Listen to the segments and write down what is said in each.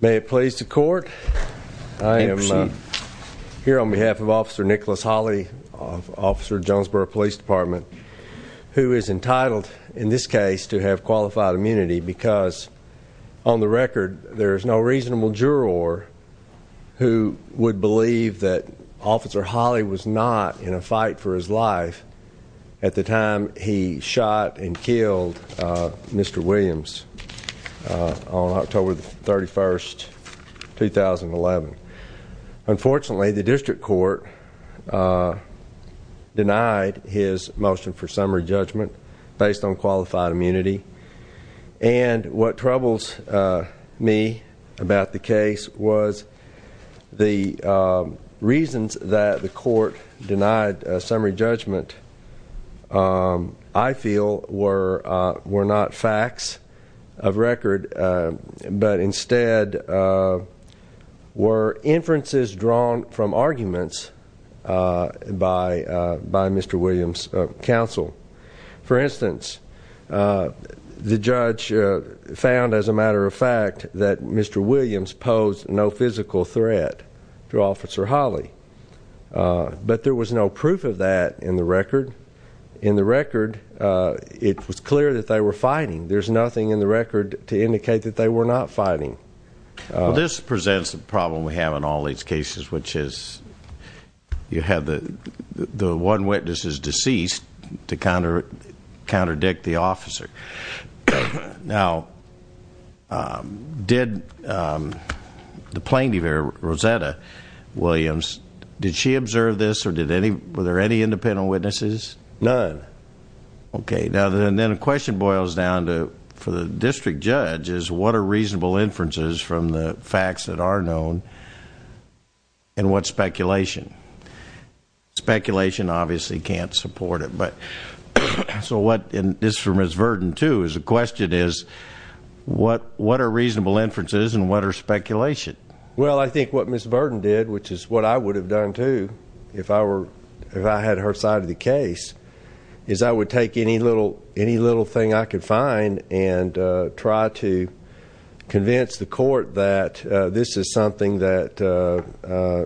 May it please the court, I am here on behalf of officer Nicholas Holley, officer Jonesboro Police Department, who is entitled in this case to have qualified immunity because on the record there is no reasonable juror who would believe that officer Holley was not in a fight for his life at the time he shot and killed Mr. Williams on October the 31st 2011. Unfortunately the district court denied his motion for summary judgment based on qualified immunity and what troubles me about the case was the reasons that the court denied a summary judgment I feel were were not facts of record but instead were inferences drawn from arguments by by Mr. Williams counsel. For instance the judge found as a matter of fact that Mr. Williams posed no physical threat to officer Holley but there was no proof of that in the record in the record it was clear that they were fighting there's nothing in the record to indicate that they were not fighting. This presents a problem we have in all these cases which is you have the the one witness is deceased to counter counterdict the officer. Now did the plaintiff Rosetta Williams did she observe this or did any were there any independent witnesses? None. Okay now then then a question boils down to for the district judge is what are reasonable inferences from the facts that are known and what speculation. Speculation obviously can't support it but so what and this for Ms. Verden too is a question is what what are reasonable inferences and what are speculation? Well I think what Ms. Verden did which is what I would have done too if I were if I had her side of the case is I would take any little any little thing I could find and try to convince the court that this is something that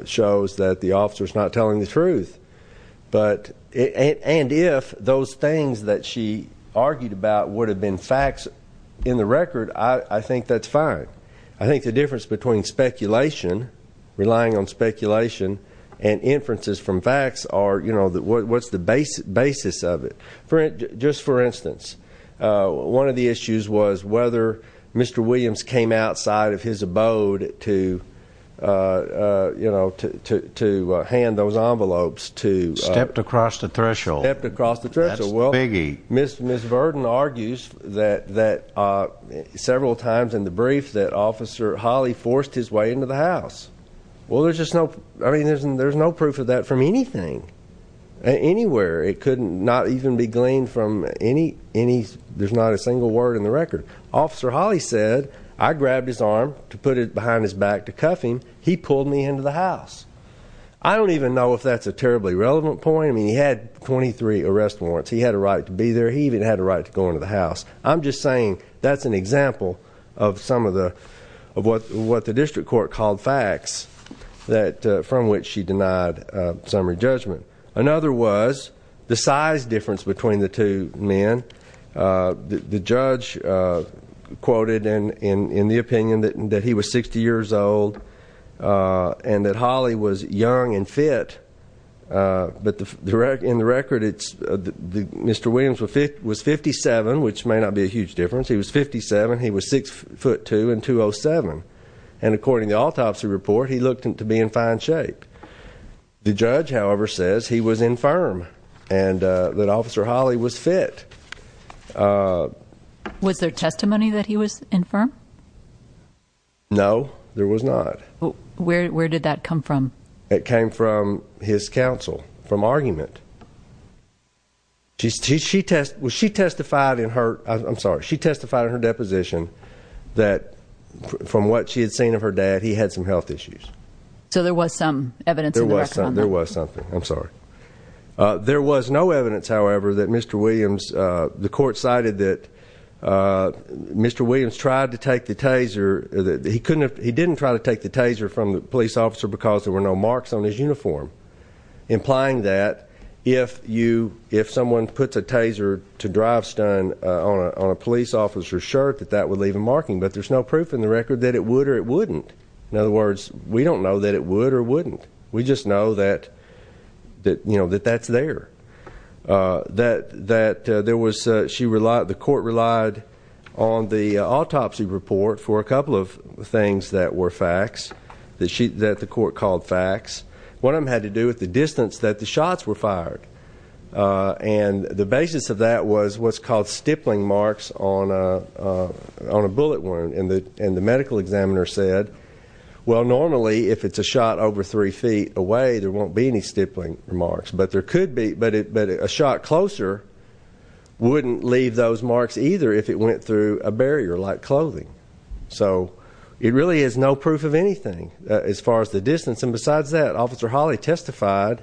shows that the officer is not telling the truth but and if those things that she argued about would have been facts in the record I think that's fine. I think the difference between speculation relying on speculation and inferences from facts are you know that what's the basic basis of it for it just for instance one of the issues was whether Mr. Williams came outside of his abode to you know to hand those envelopes to stepped across the threshold. Ms. Verden argues that that several times in the brief that officer Hawley forced his way into the house well there's just no I mean there's and there's no proof of that from anything anywhere it could not even be gleaned from any any there's not a single word in the record officer Hawley said I grabbed his arm to put it behind his back to cuff him he pulled me into the house I don't even know if that's a terribly relevant point I mean he had 23 arrest warrants he had a right to be there he even had a right to go into the house I'm just saying that's an example of some of the of what what the district court called facts that from which she denied summary judgment. Another was the size difference between the two men the judge quoted and in in the opinion that he was 60 years old and that Hawley was young and fit but the direct in the record it's the mr. Williams with it was 57 which may not be a huge difference he was 57 he was 6 foot 2 and 207 and according the autopsy report he looked into being fine shape the judge however says he was infirm and that officer Hawley was fit. Was there testimony that he was infirm? No there was not. Well where did that come from? It came from his counsel from argument she test was she testified in her I'm sorry she testified in her deposition that from what she had seen of her dad he had some health issues. So there was some evidence? There was something I'm sorry there was no evidence however that mr. Williams the court cited that mr. Williams tried to take the taser that he couldn't he didn't try to take the taser from the police officer because there were no marks on his uniform implying that if you if someone puts a taser to drive stun on a police officer shirt that that would leave a marking but there's no proof in the record that it would or it wouldn't in other words we don't know that it would or wouldn't we just know that that you know that that's there that that there was she relied the court relied on the autopsy report for a them had to do with the distance that the shots were fired and the basis of that was what's called stippling marks on a on a bullet wound in the and the medical examiner said well normally if it's a shot over three feet away there won't be any stippling remarks but there could be but it but a shot closer wouldn't leave those marks either if it went through a barrier like clothing so it really is no proof of anything as far as the distance and besides that officer Holly testified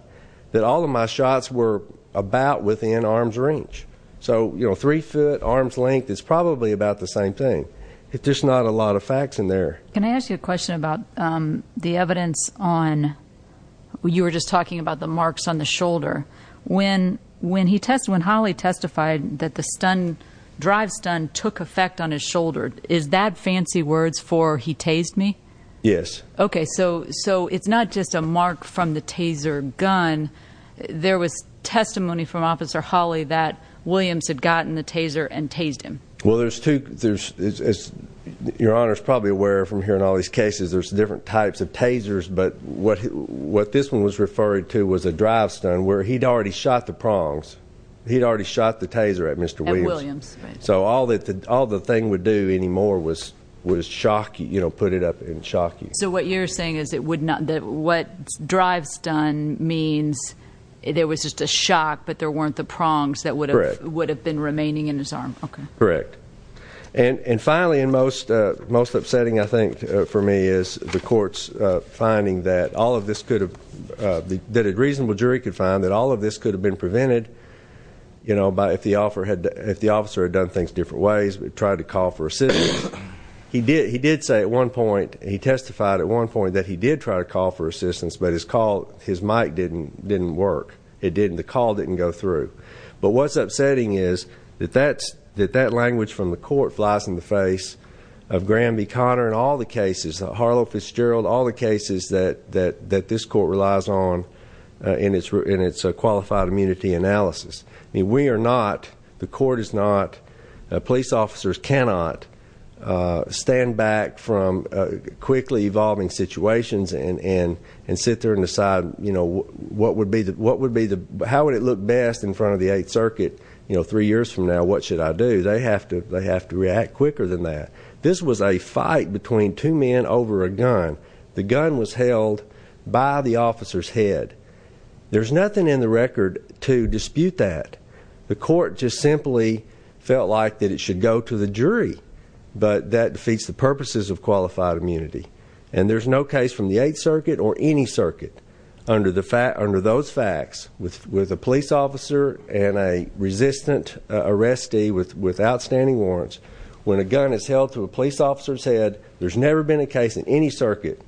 that all of my shots were about within arm's range so you know three foot arm's length is probably about the same thing if there's not a lot of facts in there can I ask you a question about the evidence on you were just talking about the marks on the shoulder when when he tested when Holly testified that the stun drive stun took effect on his shoulder is that fancy words for he tased me yes okay so so it's not just a mark from the taser gun there was testimony from officer Holly that Williams had gotten the taser and tased him well there's two there's as your honor is probably aware from here in all these cases there's different types of tasers but what what this one was referred to was a drive stun where he'd already shot the prongs he'd already shot the taser at mr. Williams so all that all the thing would do anymore was was shocking you know put it up in shock so what you're saying is it would not that what drives done means there was just a shock but there weren't the prongs that would have would have been remaining in his arm okay correct and and finally in most most upsetting I think for me is the courts finding that all of this could have that a reasonable jury could find that all of this could have been prevented you know by if the offer had if the officer had done things different ways but tried to call for assistance he did he did say at one point he testified at one point that he did try to call for assistance but his call his mic didn't didn't work it didn't the call didn't go through but what's upsetting is that that's that that language from the court flies in the face of Graham B Connor and all the cases Harlow Fitzgerald all the cases that that that this court relies on in its root in its qualified immunity analysis we are not the court is not police officers cannot stand back from quickly evolving situations and and and sit there and decide you know what would be that what would be the how would it look best in front of the Eighth Circuit you know three years from now what should I do they have to they have to react quicker than that this was a fight between two men over a gun the gun was that the court just simply felt like that it should go to the jury but that defeats the purposes of qualified immunity and there's no case from the Eighth Circuit or any circuit under the fact under those facts with with a police officer and a resistant arrestee with with outstanding warrants when a gun is held to a police officer's head there's never been a case in any circuit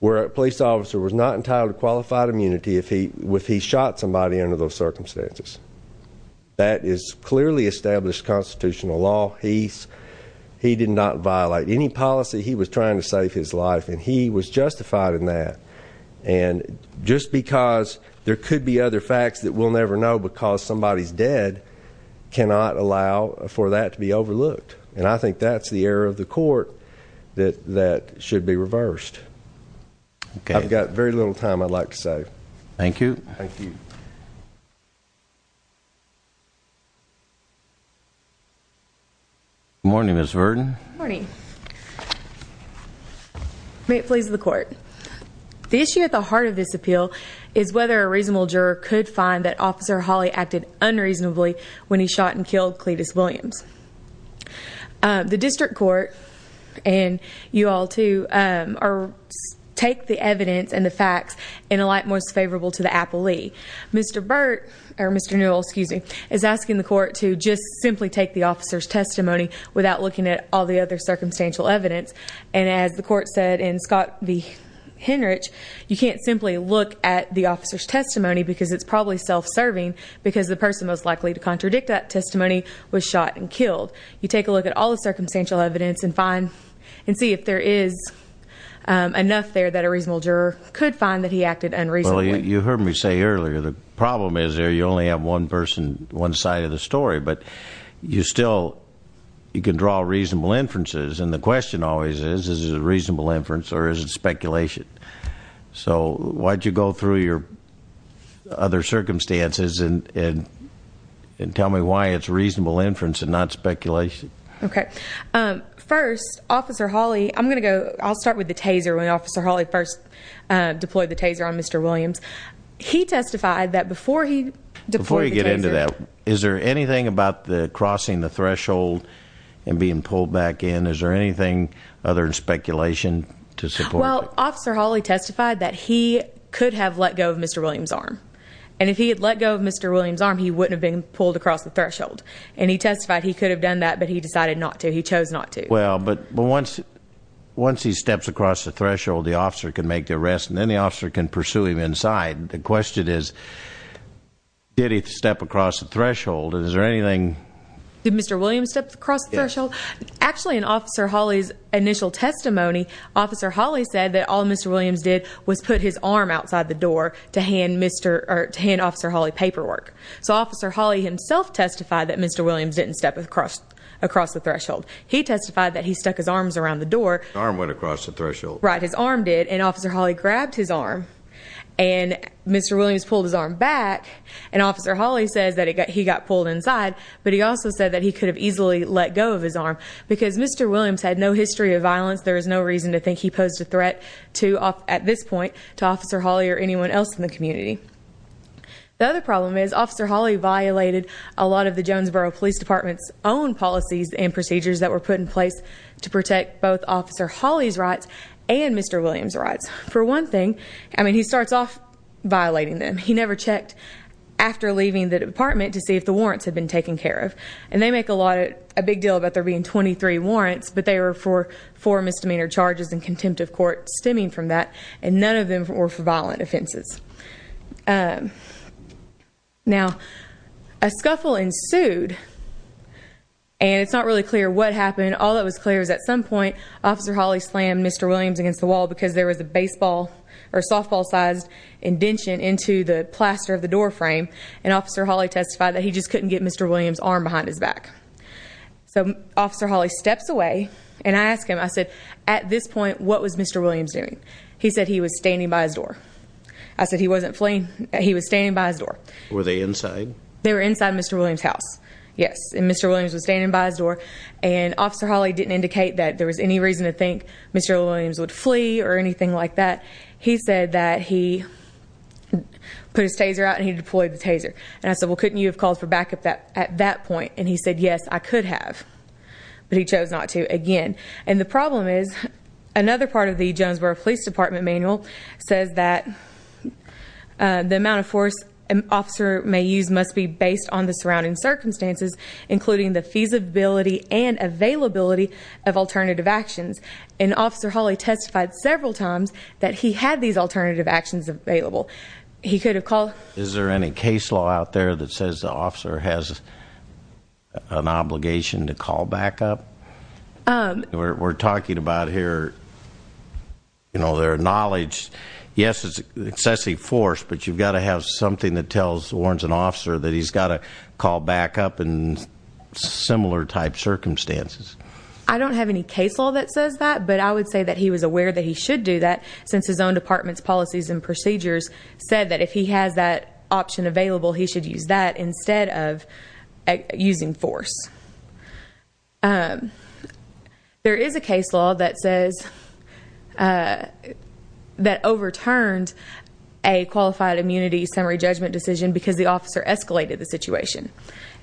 where a police officer was not entitled to qualified immunity if he with he shot somebody under those circumstances that is clearly established constitutional law he's he did not violate any policy he was trying to save his life and he was justified in that and just because there could be other facts that we'll never know because somebody's dead cannot allow for that to be overlooked and I think that's the error of the court that that should be reversed okay got very little time I'd like to say thank you thank you morning miss Verdon morning may it please the court the issue at the heart of this appeal is whether a reasonable juror could find that officer Holly acted unreasonably when he shot and killed Cletus Williams the district court and you all to take the evidence and the facts in a light most favorable to the appellee mr. Burt or mr. Newell excuse me is asking the court to just simply take the officer's testimony without looking at all the other circumstantial evidence and as the court said in Scott the Henrich you can't simply look at the officer's testimony because it's probably self-serving because the person most likely to contradict that testimony was shot and fine and see if there is enough there that a reasonable juror could find that he acted unreasonably you heard me say earlier the problem is there you only have one person one side of the story but you still you can draw reasonable inferences and the question always is is a reasonable inference or is it speculation so why'd you go through your other circumstances and and tell me why it's reasonable inference and not speculation okay first officer Holly I'm gonna go I'll start with the taser when officer Holly first deployed the taser on mr. Williams he testified that before he before you get into that is there anything about the crossing the threshold and being pulled back in is there anything other than speculation to support well officer Holly testified that he could have let go of mr. Williams arm and if he had let go of mr. Williams arm he wouldn't have been pulled across the threshold and he testified he could have done that but he decided not to he chose not to well but but once once he steps across the threshold the officer can make the rest and then the officer can pursue him inside the question is did he step across the threshold is there anything did mr. Williams steps across the threshold actually an officer Holly's initial testimony officer Holly said that all mr. Williams did was put his arm outside the door to hand mr. or 10 officer Holly paperwork so officer Holly himself testified that mr. Williams didn't step across across the threshold he testified that he stuck his arms around the door arm went across the threshold right his arm did and officer Holly grabbed his arm and mr. Williams pulled his arm back and officer Holly says that he got pulled inside but he also said that he could have easily let go of his arm because mr. Williams had no history of violence there is no reason to think he posed a threat to off at this point to officer Holly or anyone else in the community the other problem is officer Holly violated a lot of the Jonesboro Police Department's own policies and procedures that were put in place to protect both officer Holly's rights and mr. Williams rights for one thing I mean he starts off violating them he never checked after leaving the department to see if the warrants had been taken care of and they make a lot a big deal about there being 23 warrants but they were for for misdemeanor charges and contempt of court stemming from that and none of them were for misdemeanors now a scuffle ensued and it's not really clear what happened all that was clear is at some point officer Holly slammed mr. Williams against the wall because there was a baseball or softball sized indention into the plaster of the doorframe and officer Holly testified that he just couldn't get mr. Williams arm behind his back so officer Holly steps away and I asked him I said at this point what was mr. Williams doing he said he was standing by his I said he wasn't fleeing he was standing by his door were they inside they were inside mr. Williams house yes and mr. Williams was standing by his door and officer Holly didn't indicate that there was any reason to think mr. Williams would flee or anything like that he said that he put his taser out and he deployed the taser and I said well couldn't you have called for backup that at that point and he said yes I could have but he chose not to again and the problem is another part of the Jonesboro Police Department manual says that the amount of force an officer may use must be based on the surrounding circumstances including the feasibility and availability of alternative actions and officer Holly testified several times that he had these alternative actions available he could have called is there any case law out there that says the officer has an obligation to call back up we're talking about here you know their knowledge yes it's excessive force but you've got to have something that tells warns an officer that he's got a call back up and similar type circumstances I don't have any case law that says that but I would say that he was aware that he should do that since his own department's policies and procedures said that if he has that option available he should use that that overturned a qualified immunity summary judgment decision because the officer escalated the situation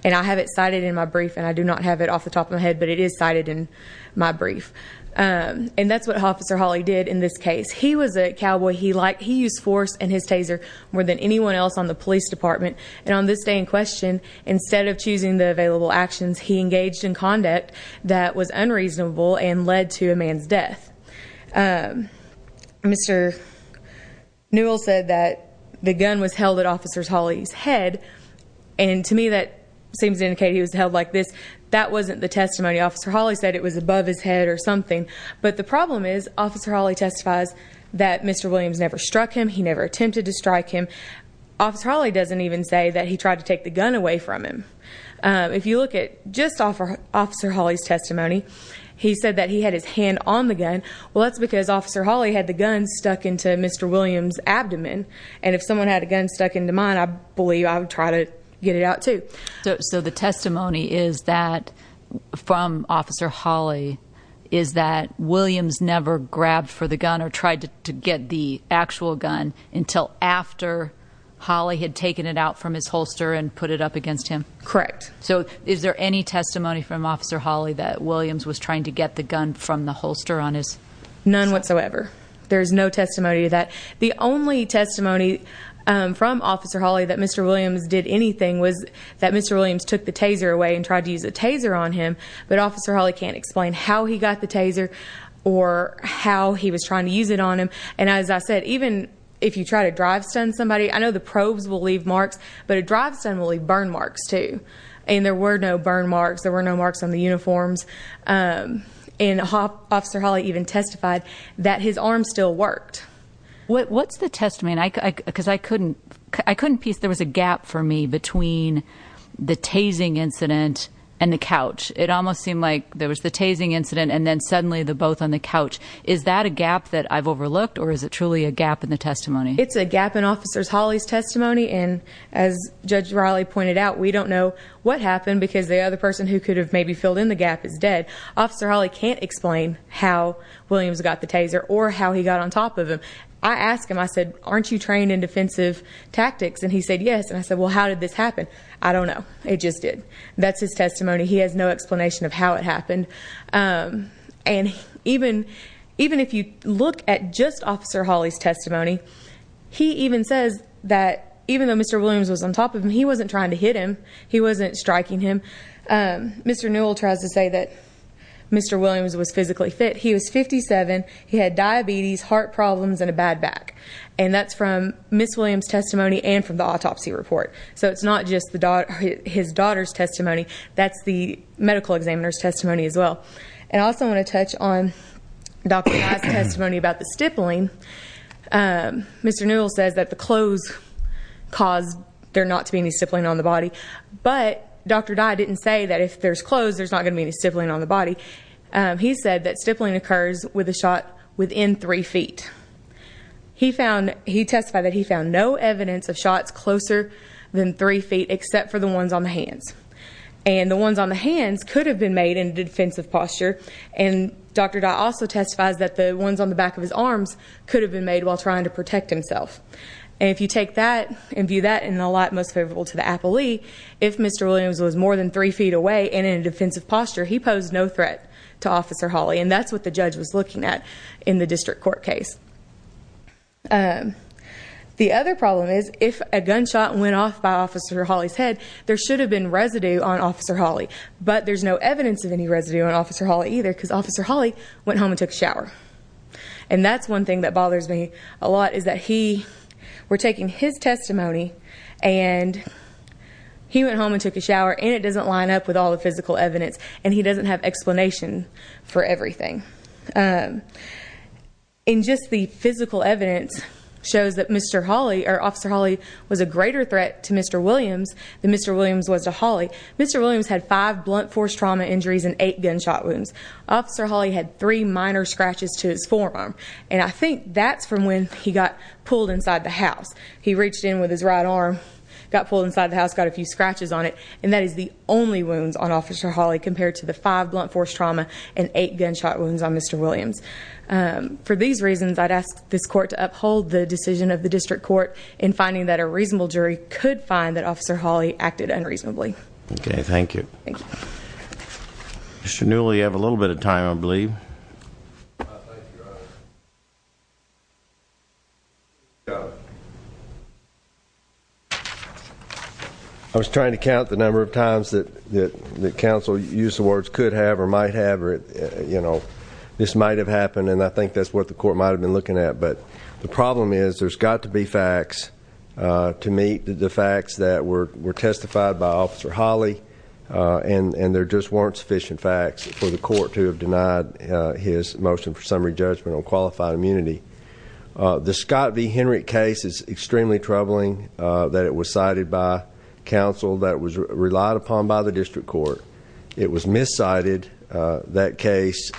and I have it cited in my brief and I do not have it off the top of my head but it is cited in my brief and that's what officer Holly did in this case he was a cowboy he liked he used force and his taser more than anyone else on the police department and on this day in question instead of choosing the available actions he engaged in conduct that was unreasonable and led to a man's death mr. Newell said that the gun was held at officers Holly's head and to me that seems indicate he was held like this that wasn't the testimony officer Holly said it was above his head or something but the problem is officer Holly testifies that mr. Williams never struck him he never attempted to strike him officer Holly doesn't even say that he tried to take the gun away from him if you look at just offer officer Holly's testimony he said that he had his hand on the gun well that's because officer Holly had the gun stuck into mr. Williams abdomen and if someone had a gun stuck into mine I believe I would try to get it out to so the testimony is that from officer Holly is that Williams never grabbed for the gun or tried to get the actual gun until after Holly had taken it out from his holster and put it up against him correct so is there any testimony from officer Holly that Williams was trying to get the gun from the holster on his none whatsoever there's no testimony that the only testimony from officer Holly that mr. Williams did anything was that mr. Williams took the taser away and tried to use a taser on him but officer Holly can't explain how he got the taser or how he was trying to use it on him and as I said even if you try to drive son somebody I know the probes will leave marks but it drives and believe burn marks to and there were no burn marks there were no marks on the uniforms in a hop officer Holly even testified that his arm still worked what's the testimony and I could because I couldn't I couldn't piece there was a gap for me between the tasing incident and the couch it almost seemed like there was the tasing incident and then suddenly the both on the couch is that a looked or is it truly a gap in the testimony it's a gap in officers Holly's testimony and as judge Riley pointed out we don't know what happened because the other person who could have maybe filled in the gap is dead officer Holly can't explain how Williams got the taser or how he got on top of him I asked him I said aren't you trained in defensive tactics and he said yes and I said well how did this happen I don't know it just did that's his testimony he has no at just officer Holly's testimony he even says that even though mr. Williams was on top of him he wasn't trying to hit him he wasn't striking him mr. Newell tries to say that mr. Williams was physically fit he was 57 he had diabetes heart problems and a bad back and that's from miss Williams testimony and from the autopsy report so it's not just the daughter his daughter's testimony that's the medical examiner's testimony as well and also I want to Mr. Newell says that the clothes caused there not to be any stippling on the body but dr. Dye didn't say that if there's clothes there's not gonna be any stippling on the body he said that stippling occurs with a shot within three feet he found he testified that he found no evidence of shots closer than three feet except for the ones on the hands and the ones on the hands could have been made in defensive posture and dr. Dye also testifies that the ones on the back of his arms could have been made while trying to protect himself and if you take that and view that in a lot most favorable to the appellee if mr. Williams was more than three feet away and in a defensive posture he posed no threat to officer Holly and that's what the judge was looking at in the district court case the other problem is if a gunshot went off by officer Holly's head there should have been residue on officer Holly but there's no evidence of any residue on officer Holly either because officer Holly went home and took a shower and that's one thing that bothers me a lot is that he were taking his testimony and he went home and took a shower and it doesn't line up with all the physical evidence and he doesn't have explanation for everything in just the physical evidence shows that mr. Holly or officer Holly was a greater threat to mr. Williams than mr. Williams was to Holly mr. Williams had five blunt force trauma injuries and eight gunshot wounds officer Holly had three minor scratches to his forearm and I think that's from when he got pulled inside the house he reached in with his right arm got pulled inside the house got a few scratches on it and that is the only wounds on officer Holly compared to the five blunt force trauma and eight gunshot wounds on mr. Williams for these reasons I'd ask this court to uphold the decision of the district court in finding that a reasonable jury could find that officer Holly acted unreasonably okay thank you thank you mr. newly you have a little bit of time I I was trying to count the number of times that that the council use the words could have or might have it you know this might have happened and I think that's what the court might have been looking at but the problem is there's got to be facts to meet the facts that were were testified by officer Holly and and there just weren't sufficient facts for the court to have motion for summary judgment on qualified immunity the Scott v. Henry case is extremely troubling that it was cited by counsel that was relied upon by the district court it was miscited that case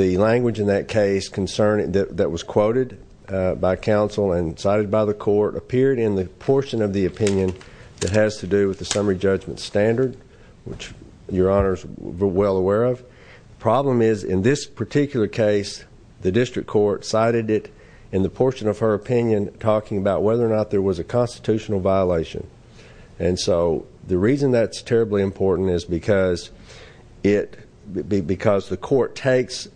the language in that case concern it that was quoted by counsel and cited by the court appeared in the portion of the opinion that has to do with the summary judgment standard which your honors were well aware of problem is in this particular case the district court cited it in the portion of her opinion talking about whether or not there was a constitutional violation and so the reason that's terribly important is because it because the court takes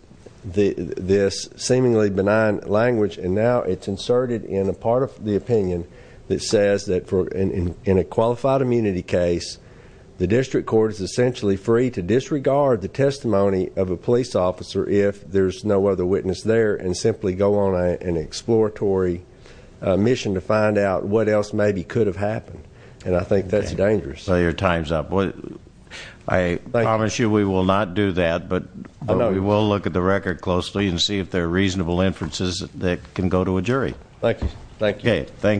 the this seemingly benign language and now it's inserted in a part of the opinion that says that for an in a qualified immunity case the district court is essentially free to disregard the testimony of a police officer if there's no other witness there and simply go on an exploratory mission to find out what else maybe could have happened and I think that's dangerous your time's up what I promise you we will not do that but I know we will look at the record closely and see if they're reasonable inferences that can go to a jury thank you thank you okay thank